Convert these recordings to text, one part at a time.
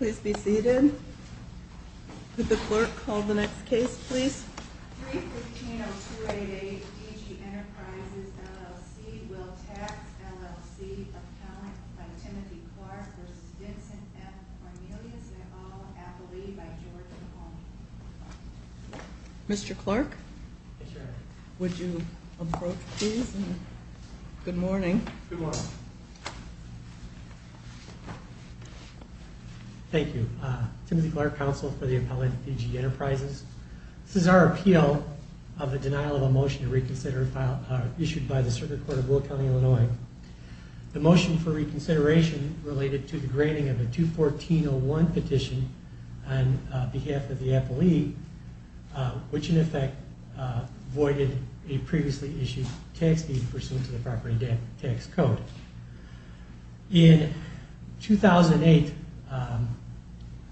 315-0288 DG Enterprises, LLC Will Tax, LLC Account by Timothy Clark v. Vincent F. Cornelius and all affiliate by George Mahoney Thank you. Timothy Clark, counsel for the appellate DG Enterprises. This is our appeal of the denial of a motion to reconsider issued by the Circuit Court of Will County, Illinois. The motion for reconsideration related to the grading of a 214-01 petition on behalf of the appellee, which in effect voided a previously issued tax deed pursuant to the property tax code. In 2008,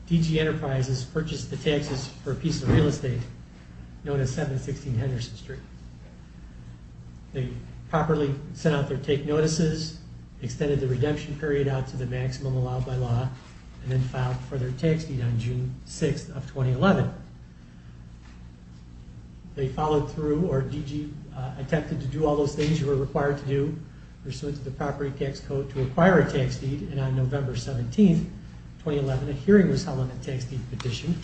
DG Enterprises purchased the taxes for a piece of real estate known as 716 Henderson Street. They properly sent out their take notices, extended the redemption period out to the maximum allowed by law, and then filed for their tax deed on June 6th of 2011. They followed through, or DG attempted to do all those things they were required to do pursuant to the property tax code to acquire a tax deed, and on November 17, 2011, a hearing was held on the tax deed petition.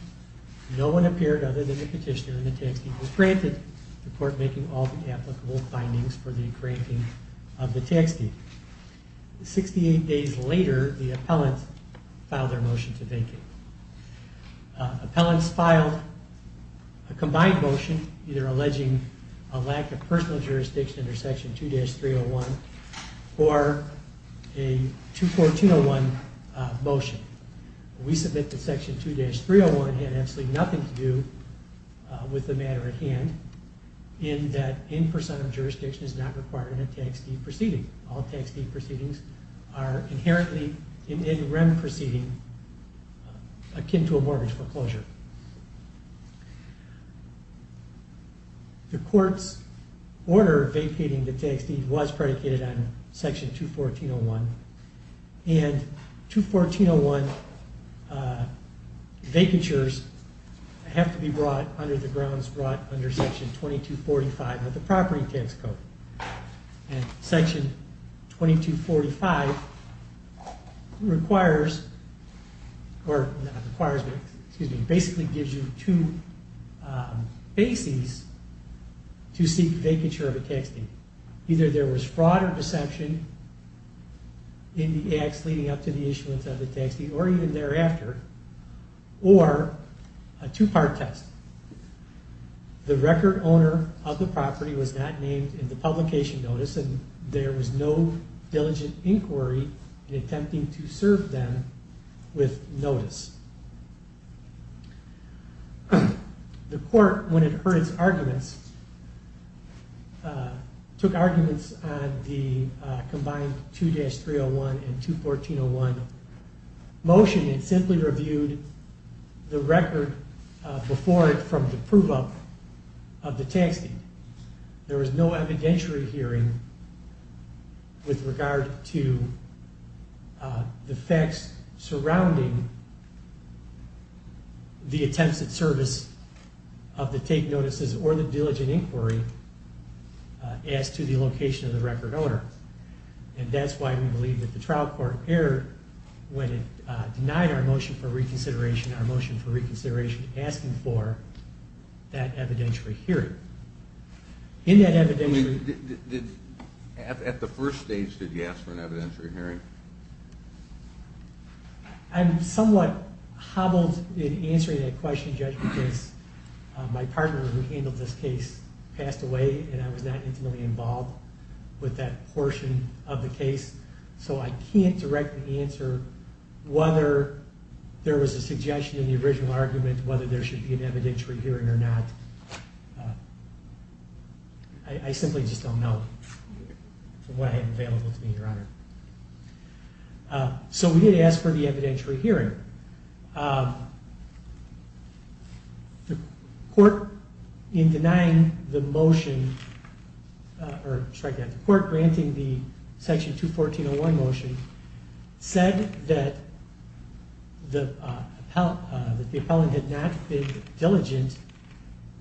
No one appeared other than the petitioner, and the tax deed was granted, the court making all the applicable findings for the granting of the tax deed. Sixty-eight days later, the appellants filed their motion to vacate. Appellants filed a combined motion, either alleging a lack of personal jurisdiction under Section 2-301, or a 242-01 motion. We submit that Section 2-301 had absolutely nothing to do with the matter at hand, in that in-person jurisdiction is not required in a tax deed proceeding. All tax deed proceedings are inherently, in any REM proceeding, akin to a mortgage foreclosure. The court's order vacating the tax deed was predicated on Section 2-1401, and 2-1401 vacatures have to be brought under the grounds brought under Section 22-45 of the property tax code. Section 22-45 basically gives you two bases to seek vacature of a tax deed. Either there was fraud or deception in the acts leading up to the issuance of the tax deed, or even thereafter, or a two-part test. The record owner of the property was not named in the publication notice, and there was no diligent inquiry in attempting to serve them with notice. The court, when it heard its arguments, took arguments on the combined 2-301 and 2-1401 motion, and simply reviewed the record before it from the prove-up of the tax deed. There was no evidentiary hearing with regard to the facts surrounding the attempts at service of the take notices or the diligent inquiry as to the location of the record owner. And that's why we believe that the trial court erred when it denied our motion for reconsideration, our motion for reconsideration asking for that evidentiary hearing. At the first stage, did you ask for an evidentiary hearing? I'm somewhat hobbled in answering that question, Judge, because my partner who handled this case passed away, and I was not intimately involved with that portion of the case. So I can't directly answer whether there was a suggestion in the original argument, whether there should be an evidentiary hearing or not. I simply just don't know from what I have available to me, Your Honor. So we did ask for the evidentiary hearing. The court, in denying the motion, or sorry, the court granting the section 214-01 motion, said that the appellant had not been diligent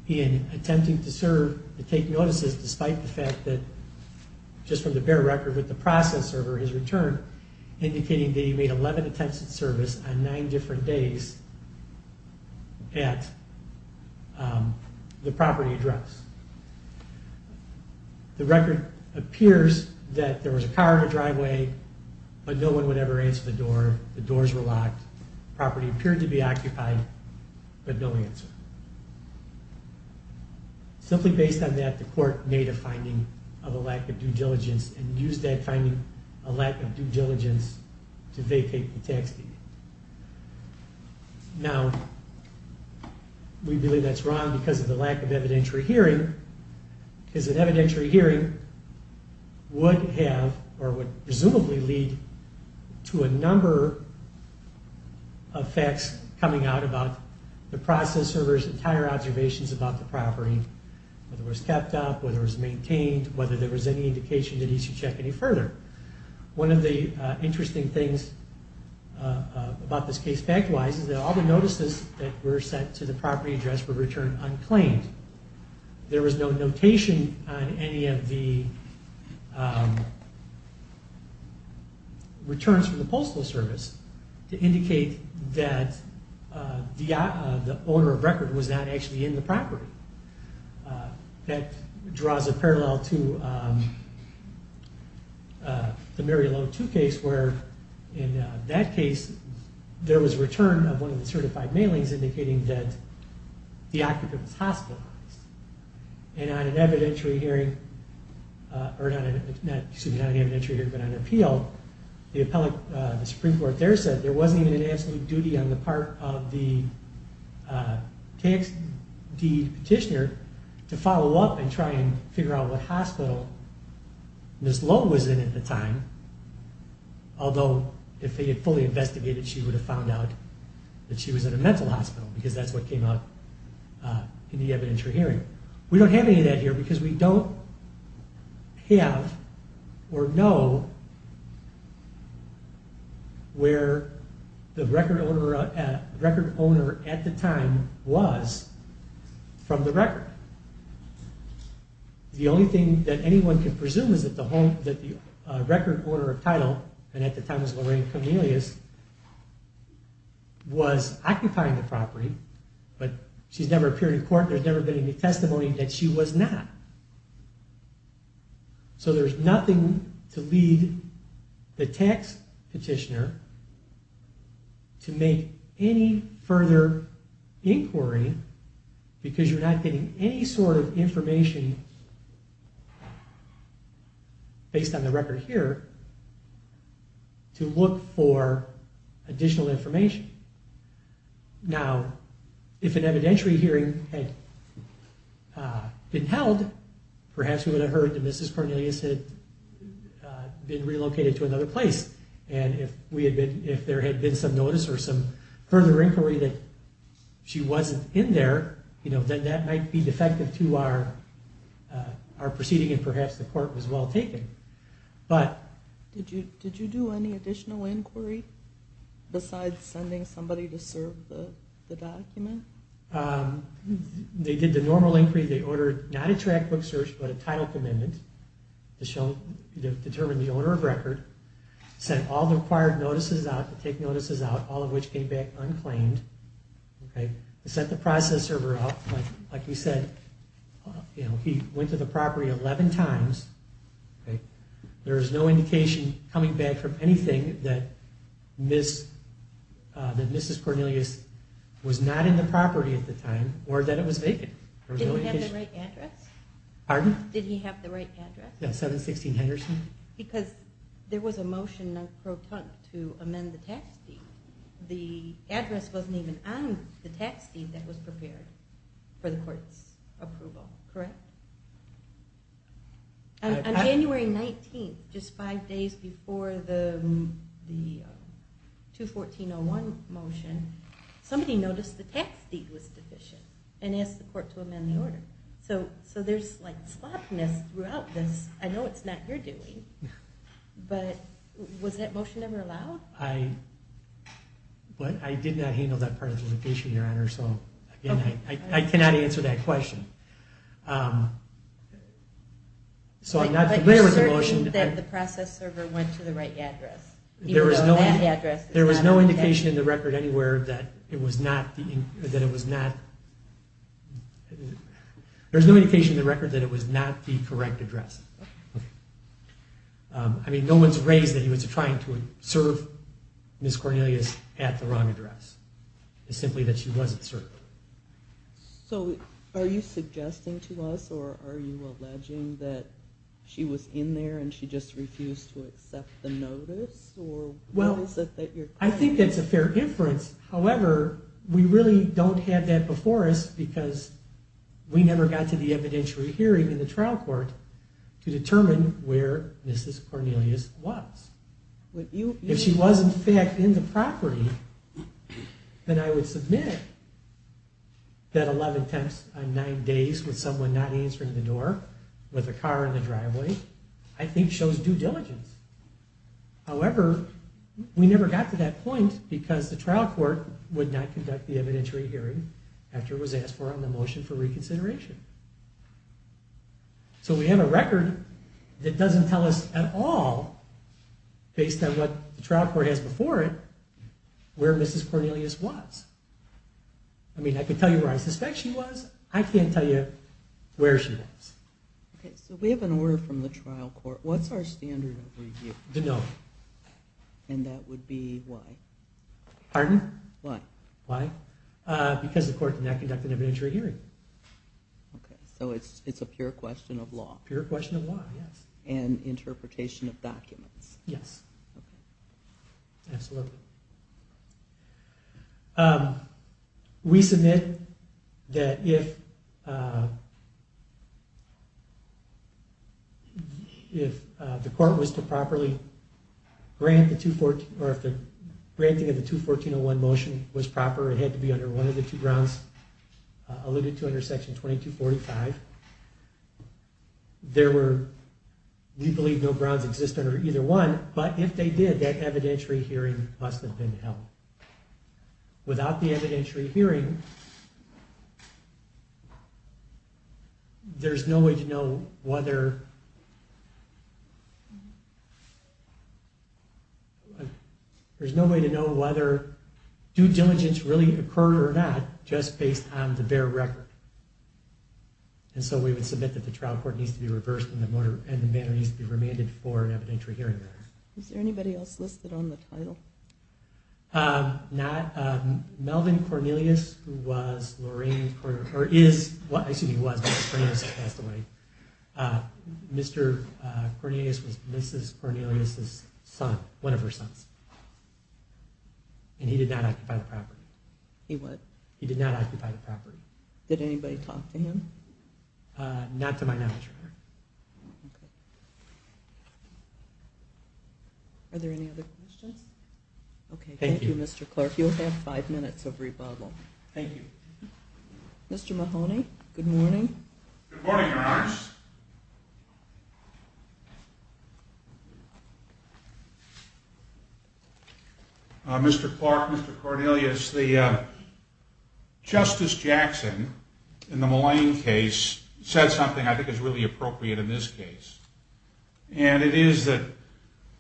in attempting to serve the take notices, despite the fact that, just from the bare record with the process server, his return indicating that he made 11 attempts at service on nine different days at the property address. The record appears that there was a car in the driveway, but no one would ever answer the door, the doors were locked, the property appeared to be occupied, but no answer. Simply based on that, the court made a finding of a lack of due diligence, and used that finding, a lack of due diligence, to vacate the tax deed. Now, we believe that's wrong because of the lack of evidentiary hearing. Because an evidentiary hearing would have, or would presumably lead to a number of facts coming out about the process server's entire observations about the property. Whether it was kept up, whether it was maintained, whether there was any indication that he should check any further. One of the interesting things about this case, fact-wise, is that all the notices that were sent to the property address were returned unclaimed. There was no notation on any of the returns from the Postal Service to indicate that the owner of record was not actually in the property. That draws a parallel to the Mary Lowe 2 case, where in that case, there was a return of one of the certified mailings indicating that the occupant was hospitalized. And on an evidentiary hearing, or not an evidentiary hearing, but an appeal, the Supreme Court there said there wasn't even an absolute duty on the part of the tax deed petitioner to follow up and try and figure out what hospital Ms. Lowe was in at the time. Although, if they had fully investigated, she would have found out that she was in a mental hospital, because that's what came out in the evidentiary hearing. We don't have any of that here, because we don't have or know where the record owner at the time was from the record. The only thing that anyone can presume is that the record owner of title, and at the time it was Lorraine Cornelius, was occupying the property, but she's never appeared in court, there's never been any testimony that she was not. So there's nothing to lead the tax petitioner to make any further inquiry, because you're not getting any sort of information based on the record here to look for additional information. Now, if an evidentiary hearing had been held, perhaps we would have heard that Mrs. Cornelius had been relocated to another place, and if there had been some notice or some further inquiry that she wasn't in there, then that might be defective to our proceeding, and perhaps the court was well taken. Did you do any additional inquiry besides sending somebody to serve the document? They did the normal inquiry, they ordered not a track book search, but a title commitment to determine the owner of record, sent all the required notices out, to take notices out, all of which came back unclaimed, set the process server up, like you said, he went to the property 11 times, there was no indication coming back from anything that Mrs. Cornelius was not in the property at the time, or that it was vacant. Did he have the right address? Pardon? Did he have the right address? Yeah, 716 Henderson. Because there was a motion to amend the tax deed, the address wasn't even on the tax deed that was prepared for the court's approval, correct? On January 19th, just five days before the 214-01 motion, somebody noticed the tax deed was deficient and asked the court to amend the order. So there's sloppiness throughout this, I know it's not your doing, but was that motion ever allowed? I did not handle that part of the location, Your Honor, so I cannot answer that question. So I'm not familiar with the motion. But you're certain that the process server went to the right address? There was no indication in the record anywhere that it was not the correct address. I mean, no one's raised that he was trying to serve Mrs. Cornelius at the wrong address. It's simply that she wasn't served. So are you suggesting to us or are you alleging that she was in there and she just refused to accept the notice? Well, I think that's a fair inference. However, we really don't have that before us because we never got to the evidentiary hearing in the trial court to determine where Mrs. Cornelius was. If she was in fact in the property, then I would submit that 11 temps on 9 days with someone not answering the door, with a car in the driveway, I think shows due diligence. However, we never got to that point because the trial court would not conduct the evidentiary hearing after it was asked for on the motion for reconsideration. So we have a record that doesn't tell us at all, based on what the trial court has before it, where Mrs. Cornelius was. I mean, I could tell you where I suspect she was. I can't tell you where she was. Okay, so we have an order from the trial court. What's our standard of review? The note. And that would be why? Pardon? Why? Why? Because the court did not conduct an evidentiary hearing. Okay, so it's a pure question of law. Pure question of law, yes. And interpretation of documents. Yes. Okay. Absolutely. We submit that if the court was to properly grant the 214, or if the granting of the 214-01 motion was proper, it had to be under one of the two grounds alluded to under section 2245. There were, we believe, no grounds exist under either one, but if they did, that evidentiary hearing must have been held. Without the evidentiary hearing, there's no way to know whether due diligence really occurred or not, just based on the bare record. And so we would submit that the trial court needs to be reversed and the matter needs to be remanded for an evidentiary hearing. Is there anybody else listed on the title? Not. Melvin Cornelius, who was Lorraine's, or is, excuse me, was, but Cornelius has passed away. Mr. Cornelius was Mrs. Cornelius's son, one of her sons. And he did not occupy the property. He what? He did not occupy the property. Did anybody talk to him? Not to my knowledge, Your Honor. Okay. Are there any other questions? Okay, thank you, Mr. Clark. You'll have five minutes of rebuttal. Thank you. Mr. Mahoney, good morning. Good morning, Your Honor. Mr. Clark, Mr. Cornelius, the Justice Jackson in the Malign case said something I think is really appropriate in this case. And it is that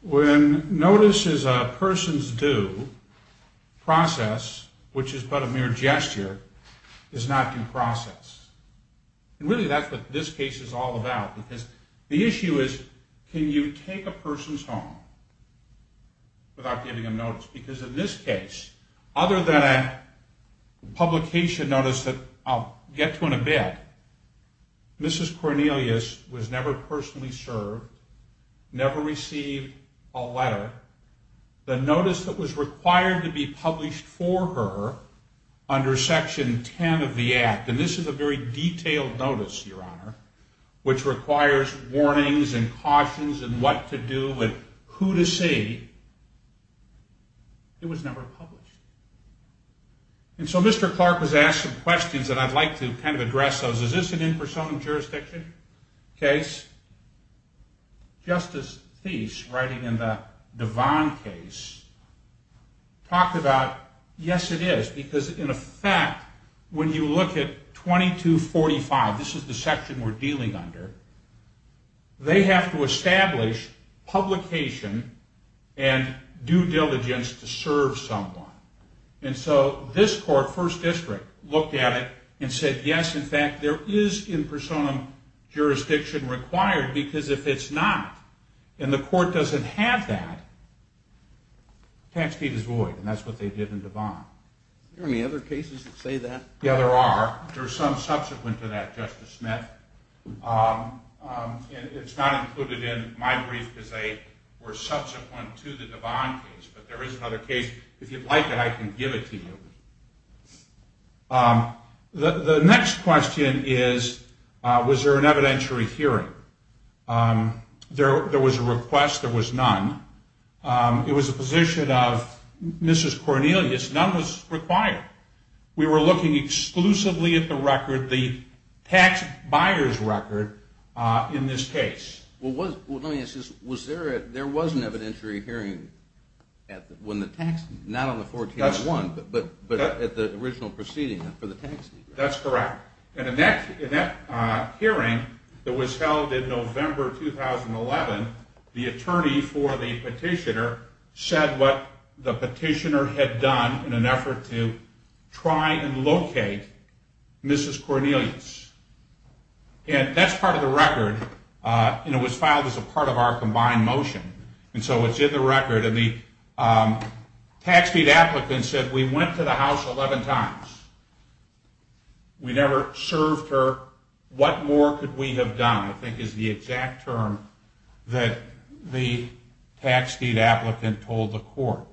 when notice is a person's due, process, which is but a mere gesture, is not due process. And really that's what this case is all about. Because the issue is can you take a person's home without giving them notice? Because in this case, other than a publication notice that I'll get to in a bit, Mrs. Cornelius was never personally served, never received a letter. The notice that was required to be published for her under Section 10 of the Act, and this is a very detailed notice, Your Honor, which requires warnings and cautions and what to do and who to see, it was never published. And so Mr. Clark has asked some questions, and I'd like to kind of address those. Is this an impersonal jurisdiction case? Justice Thies, writing in the Devon case, talked about, yes, it is. Because in effect, when you look at 2245, this is the section we're dealing under, they have to establish publication and due diligence to serve someone. And so this court, First District, looked at it and said, yes, in fact, there is impersonal jurisdiction required because if it's not and the court doesn't have that, the tax deed is void, and that's what they did in Devon. Are there any other cases that say that? Yeah, there are. There are some subsequent to that, Justice Smith, and it's not included in my brief because they were subsequent to the Devon case, but there is another case. If you'd like it, I can give it to you. The next question is, was there an evidentiary hearing? There was a request. There was none. It was a position of Mrs. Cornelius. None was required. We were looking exclusively at the record, the tax buyer's record in this case. Well, let me ask this. Was there a ñ there was an evidentiary hearing when the tax ñ not on the 14-1, but at the original proceeding for the tax deed? That's correct. And in that hearing that was held in November 2011, the attorney for the petitioner said what the petitioner had done in an effort to try and locate Mrs. Cornelius. And that's part of the record, and it was filed as a part of our combined motion. And so it's in the record, and the tax deed applicant said, We went to the house 11 times. We never served her. What more could we have done, I think is the exact term that the tax deed applicant told the court.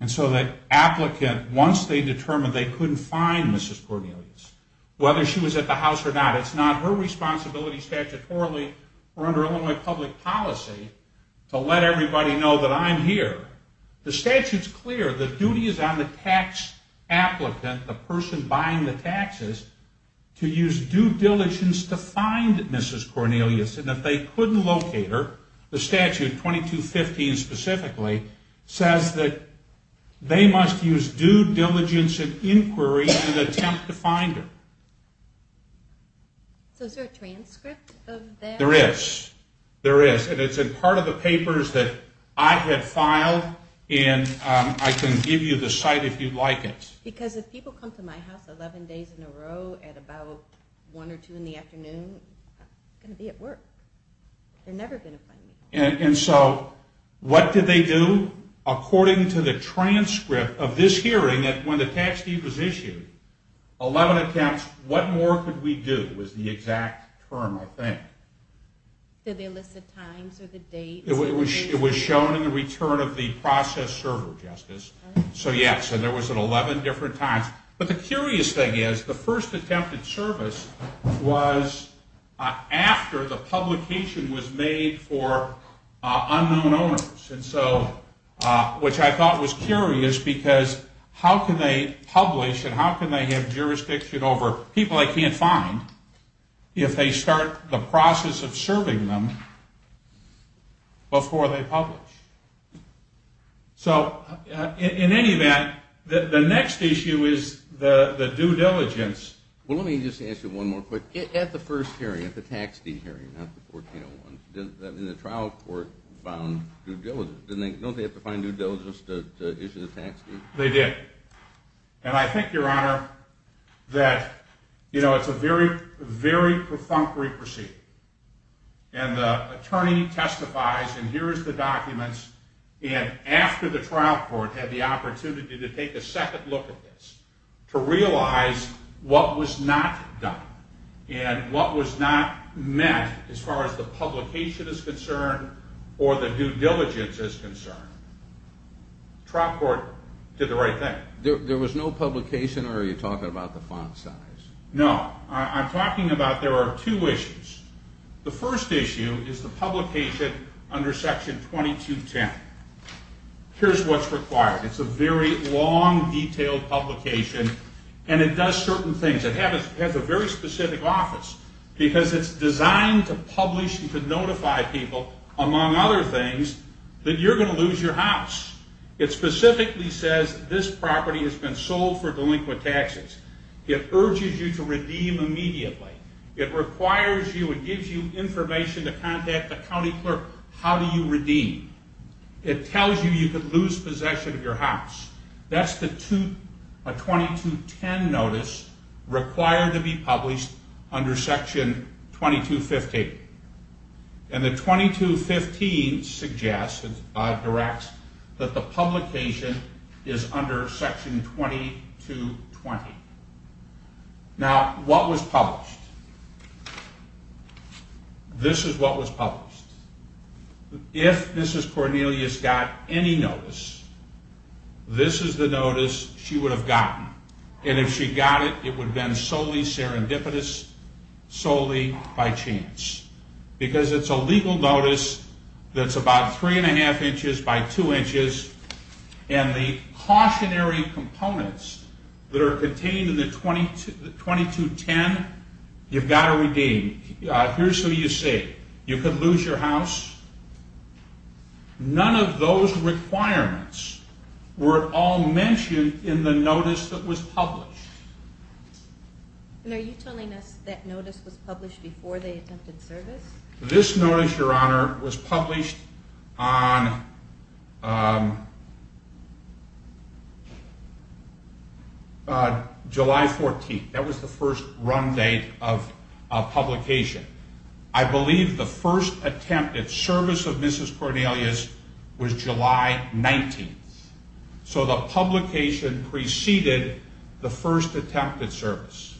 And so the applicant, once they determined they couldn't find Mrs. Cornelius, whether she was at the house or not, it's not her responsibility statutorily or under Illinois public policy to let everybody know that I'm here. The statute's clear. The duty is on the tax applicant, the person buying the taxes, to use due diligence to find Mrs. Cornelius. And if they couldn't locate her, the statute, 2215 specifically, says that they must use due diligence and inquiry in an attempt to find her. So is there a transcript of that? There is. There is, and it's in part of the papers that I had filed, and I can give you the site if you'd like it. Because if people come to my house 11 days in a row at about 1 or 2 in the afternoon, I'm going to be at work. They're never going to find me. And so what did they do? According to the transcript of this hearing when the tax deed was issued, 11 attempts, what more could we do was the exact term, I think. Did they list the times or the dates? It was shown in the return of the process server, Justice. So, yes, there was 11 different times. But the curious thing is the first attempted service was after the publication was made for unknown owners, which I thought was curious because how can they publish and how can they have jurisdiction over people they can't find if they start the process of serving them before they publish? So in any event, the next issue is the due diligence. Well, let me just ask you one more question. At the first hearing, at the tax deed hearing, not the 1401, didn't the trial court found due diligence? Don't they have to find due diligence to issue the tax deed? They did. And I think, Your Honor, that it's a very, very perfunctory proceeding. And the attorney testifies, and here is the documents, and after the trial court had the opportunity to take a second look at this, to realize what was not done and what was not met as far as the publication is concerned or the due diligence is concerned. The trial court did the right thing. There was no publication, or are you talking about the font size? No. I'm talking about there are two issues. The first issue is the publication under Section 2210. Here's what's required. It's a very long, detailed publication, and it does certain things. It has a very specific office because it's designed to publish and to notify people, among other things, that you're going to lose your house. It specifically says this property has been sold for delinquent taxes. It urges you to redeem immediately. It requires you and gives you information to contact the county clerk. How do you redeem? It tells you you could lose possession of your house. That's a 2210 notice required to be published under Section 2215. And the 2215 suggests, directs, that the publication is under Section 2220. Now, what was published? This is what was published. If Mrs. Cornelius got any notice, this is the notice she would have gotten. And if she got it, it would have been solely serendipitous, solely by chance. Because it's a legal notice that's about three-and-a-half inches by two inches, and the cautionary components that are contained in the 2210, you've got to redeem. Here's who you see. You could lose your house. None of those requirements were at all mentioned in the notice that was published. And are you telling us that notice was published before they attempted service? This notice, Your Honor, was published on July 14th. That was the first run date of publication. I believe the first attempt at service of Mrs. Cornelius was July 19th. So the publication preceded the first attempt at service.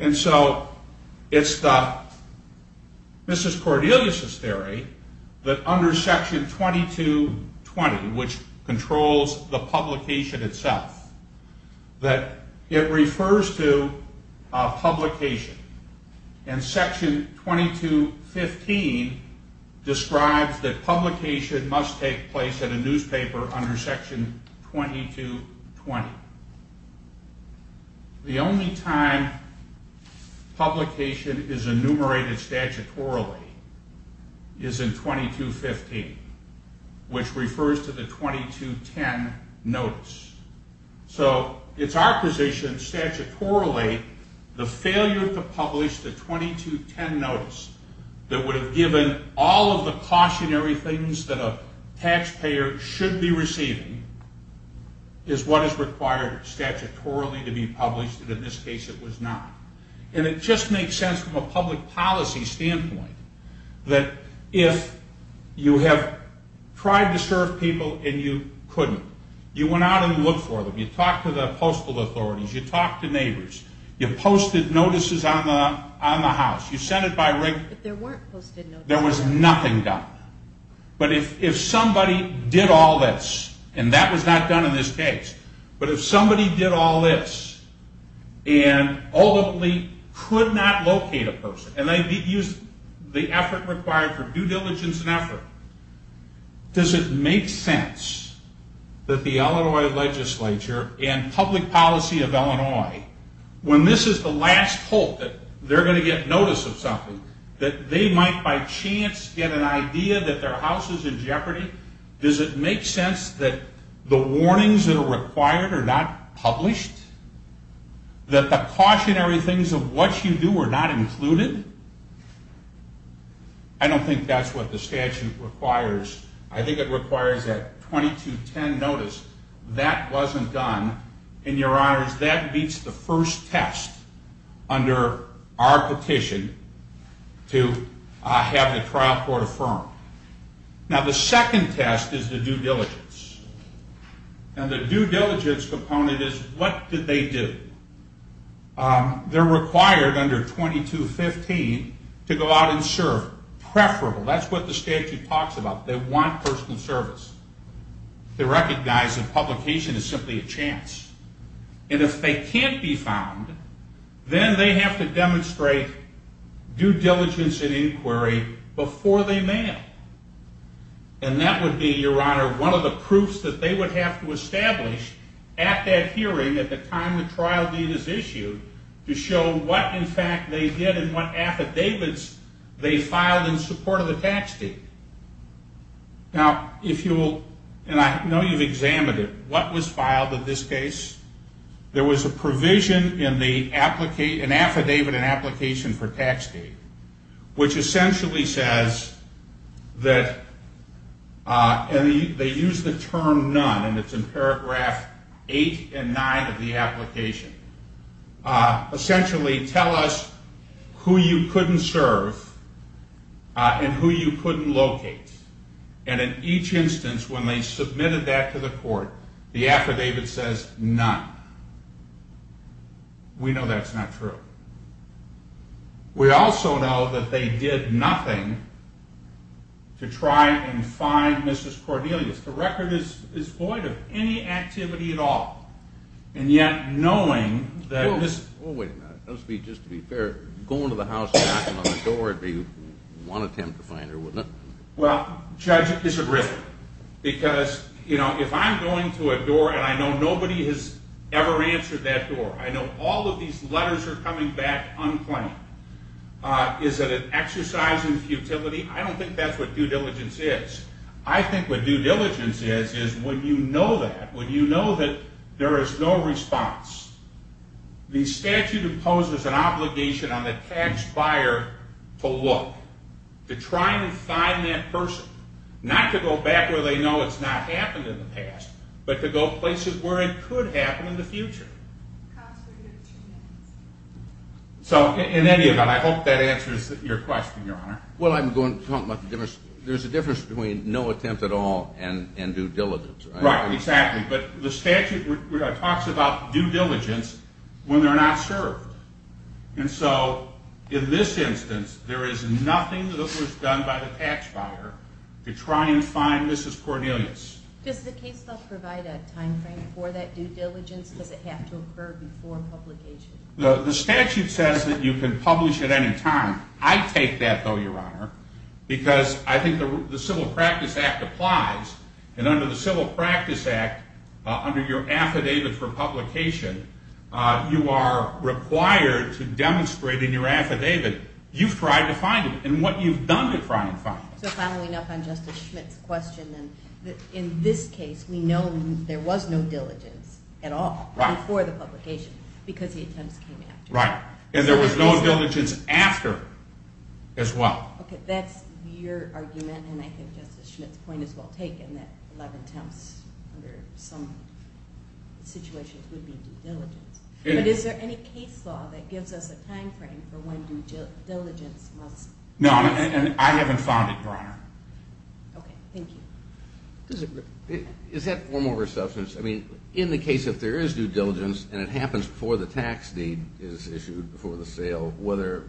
And so it's the Mrs. Cornelius's theory that under Section 2220, which controls the publication itself, that it refers to a publication. And Section 2215 describes that publication must take place at a newspaper under Section 2220. The only time publication is enumerated statutorily is in 2215, which refers to the 2210 notice. So it's our position statutorily the failure to publish the 2210 notice that would have given all of the cautionary things that a taxpayer should be receiving is what is required statutorily to be published, and in this case it was not. And it just makes sense from a public policy standpoint that if you have tried to serve people and you couldn't, you went out and looked for them. You talked to the postal authorities. You talked to neighbors. You posted notices on the house. You sent it by ring. But there weren't posted notices. There was nothing done. But if somebody did all this, and that was not done in this case, but if somebody did all this and ultimately could not locate a person and they used the effort required for due diligence and effort, does it make sense that the Illinois legislature and public policy of Illinois, when this is the last hope that they're going to get notice of something, that they might by chance get an idea that their house is in jeopardy? Does it make sense that the warnings that are required are not published? That the cautionary things of what you do are not included? I don't think that's what the statute requires. I think it requires that 2210 notice, that wasn't done. And, Your Honors, that beats the first test under our petition to have the trial court affirmed. Now, the second test is the due diligence. And the due diligence component is what did they do? They're required under 2215 to go out and serve, preferable. That's what the statute talks about. They want personal service. They recognize that publication is simply a chance. And if they can't be found, then they have to demonstrate due diligence and inquiry before they may. And that would be, Your Honor, one of the proofs that they would have to establish at that hearing at the time the trial deed is issued to show what, in fact, they did and what affidavits they filed in support of the tax deed. Now, if you will, and I know you've examined it, what was filed in this case? There was a provision in the affidavit and application for tax deed, which essentially says that, and they use the term none, and it's in paragraph eight and nine of the application. Essentially, tell us who you couldn't serve and who you couldn't locate. And in each instance, when they submitted that to the court, the affidavit says none. We know that's not true. We also know that they did nothing to try and find Mrs. Cordelius. The record is void of any activity at all. And yet, knowing that Mrs. Oh, wait a minute. Just to be fair, going to the house and knocking on the door would be one attempt to find her, wouldn't it? Well, Judge, it's a risk. Because if I'm going to a door and I know nobody has ever answered that door, I know all of these letters are coming back unclaimed, is it an exercise in futility? I don't think that's what due diligence is. I think what due diligence is is when you know that, when you know that there is no response, the statute imposes an obligation on the tax buyer to look, to try and find that person, not to go back where they know it's not happened in the past, but to go places where it could happen in the future. So in any event, I hope that answers your question, Your Honor. Well, I'm going to talk about the difference. There's a difference between no attempt at all and due diligence. Right, exactly. But the statute talks about due diligence when they're not served. And so in this instance, there is nothing that was done by the tax buyer to try and find Mrs. Cornelius. Does the case file provide a time frame for that due diligence? Does it have to occur before publication? The statute says that you can publish at any time. I take that, though, Your Honor, because I think the Civil Practice Act applies. And under the Civil Practice Act, under your affidavit for publication, you are required to demonstrate in your affidavit you've tried to find it and what you've done to try and find it. So following up on Justice Schmitt's question, in this case we know there was no diligence at all before the publication because the attempts came after. Right, and there was no diligence after as well. Okay, that's your argument, and I think Justice Schmitt's point is well taken, that 11 attempts under some situations would be due diligence. But is there any case law that gives us a time frame for when due diligence must occur? No, and I haven't found it, Your Honor. Okay, thank you. Is that form over substance? I mean, in the case if there is due diligence and it happens before the tax deed is issued before the sale, whether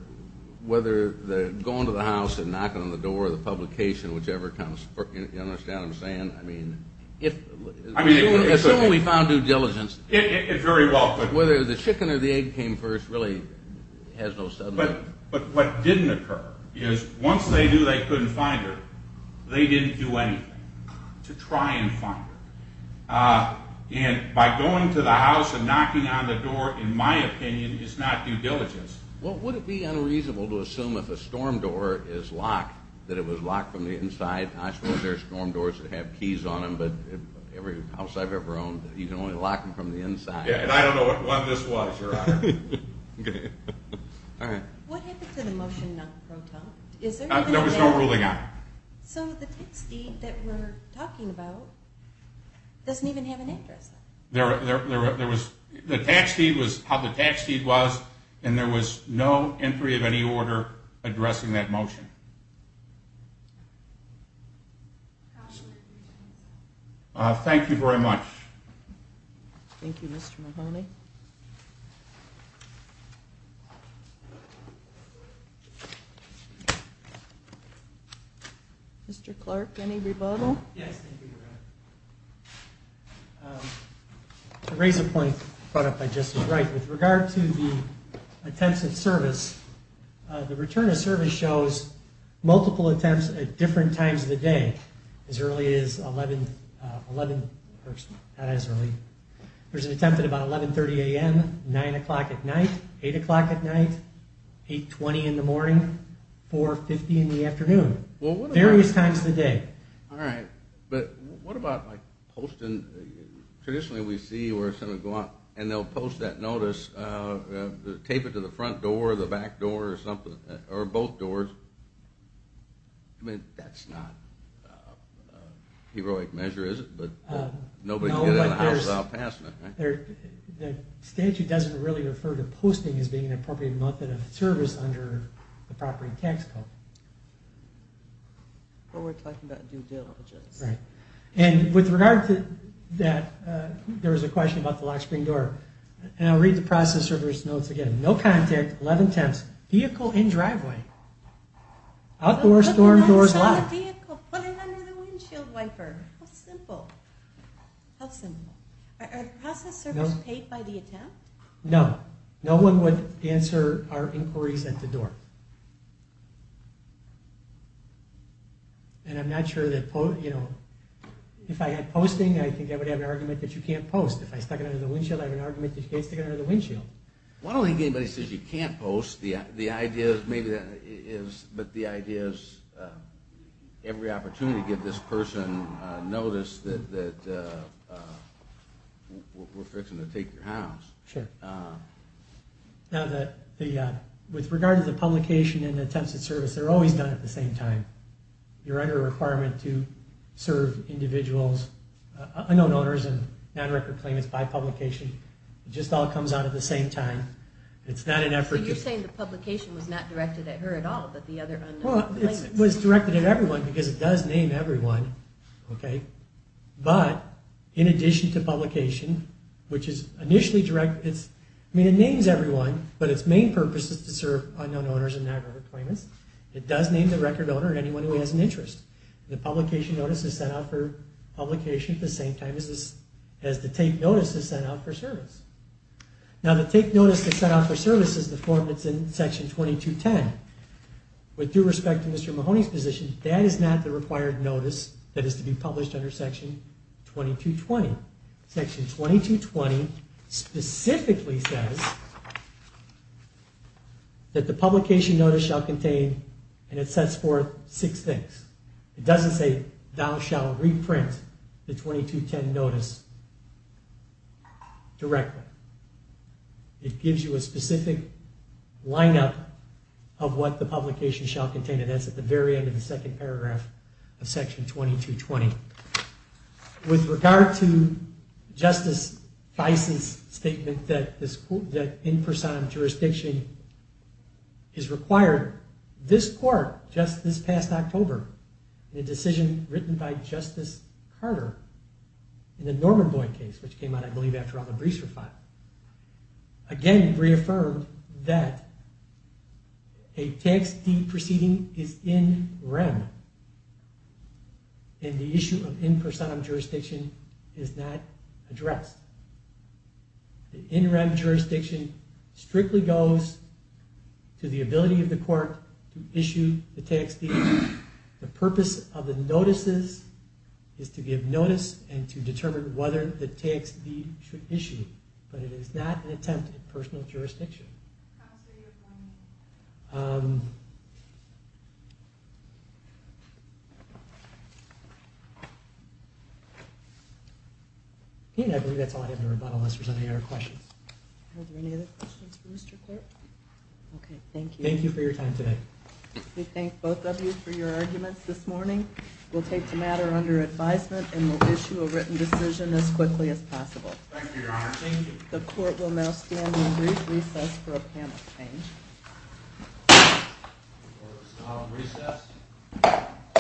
going to the house and knocking on the door or the publication, whichever comes first, you understand what I'm saying? Assume we found due diligence. Very well. Whether the chicken or the egg came first really has no substance. But what didn't occur is once they knew they couldn't find her, they didn't do anything to try and find her. And by going to the house and knocking on the door, in my opinion, is not due diligence. Well, would it be unreasonable to assume if a storm door is locked, that it was locked from the inside? I suppose there are storm doors that have keys on them, but every house I've ever owned, you can only lock them from the inside. I don't know what this was, Your Honor. What happened to the motion not pro tempore? There was no ruling on it. So the tax deed that we're talking about doesn't even have an address on it. The tax deed was how the tax deed was, and there was no entry of any order addressing that motion. Thank you very much. Thank you, Mr. Mahoney. Mr. Clark, any rebuttal? Yes, thank you, Your Honor. I raise a point brought up by Justice Wright. With regard to the attempts at service, the return of service shows multiple attempts at different times of the day, as early as 11 or not as early. There's an attempt at about 11.30 a.m., 9 o'clock at night, 8 o'clock at night, 8.20 in the morning, 4.50 in the afternoon, various times of the day. All right. But what about, like, posting? Traditionally we see where someone would go out and they'll post that notice, tape it to the front door or the back door or both doors. I mean, that's not a heroic measure, is it? But nobody can get out of the house without passing it, right? The statute doesn't really refer to posting as being an appropriate method of service under the property tax code. But we're talking about due diligence. Right. And with regard to that, there was a question about the lock screen door. And I'll read the process service notes again. No contact, 11.10, vehicle in driveway, outdoor storm doors locked. Put it under the windshield wiper. How simple. How simple. Are the process service paid by the attempt? No. No one would answer our inquiries at the door. And I'm not sure that, you know, if I had posting, I think I would have an argument that you can't post. If I stuck it under the windshield, I have an argument that you can't stick it under the windshield. I don't think anybody says you can't post. The idea is maybe that is, but the idea is every opportunity to give this person a notice that we're fixing to take your house. Sure. Now, with regard to the publication and attempts at service, they're always done at the same time. You're under a requirement to serve individuals, unknown owners and non-recorded claimants by publication. It just all comes out at the same time. It's not an effort. So you're saying the publication was not directed at her at all, but the other unknown claimants? Well, it was directed at everyone because it does name everyone, okay? But in addition to publication, which is initially directed, I mean, it names everyone, but its main purpose is to serve unknown owners and non-recorded claimants. It does name the record owner and anyone who has an interest. The publication notice is sent out for publication at the same time as the take notice is sent out for service. Now, the take notice that's sent out for service is the form that's in Section 2210. With due respect to Mr. Mahoney's position, that is not the required notice that is to be published under Section 2220. Section 2220 specifically says that the publication notice shall contain, and it sets forth, six things. It doesn't say, thou shalt reprint the 2210 notice directly. It gives you a specific lineup of what the publication shall contain, and that's at the very end of the second paragraph of Section 2220. With regard to Justice Fison's statement that in person jurisdiction is required, this court, just this past October, in a decision written by Justice Carter in the Norman Boyd case, which came out, I believe, after all the briefs were filed, again reaffirmed that a tax deed proceeding is in rem, and the issue of in person jurisdiction is not addressed. The in rem jurisdiction strictly goes to the ability of the court to issue the tax deed. The purpose of the notices is to give notice and to determine whether the tax deed should be issued, but it is not an attempt at personal jurisdiction. I believe that's all I have to rebuttal, unless there's any other questions. Are there any other questions for Mr. Clark? Okay, thank you. Thank you for your time today. We thank both of you for your arguments this morning. We'll take the matter under advisement and we'll issue a written decision as quickly as possible. Thank you, Your Honor. The court will now stand in brief recess for a panel exchange.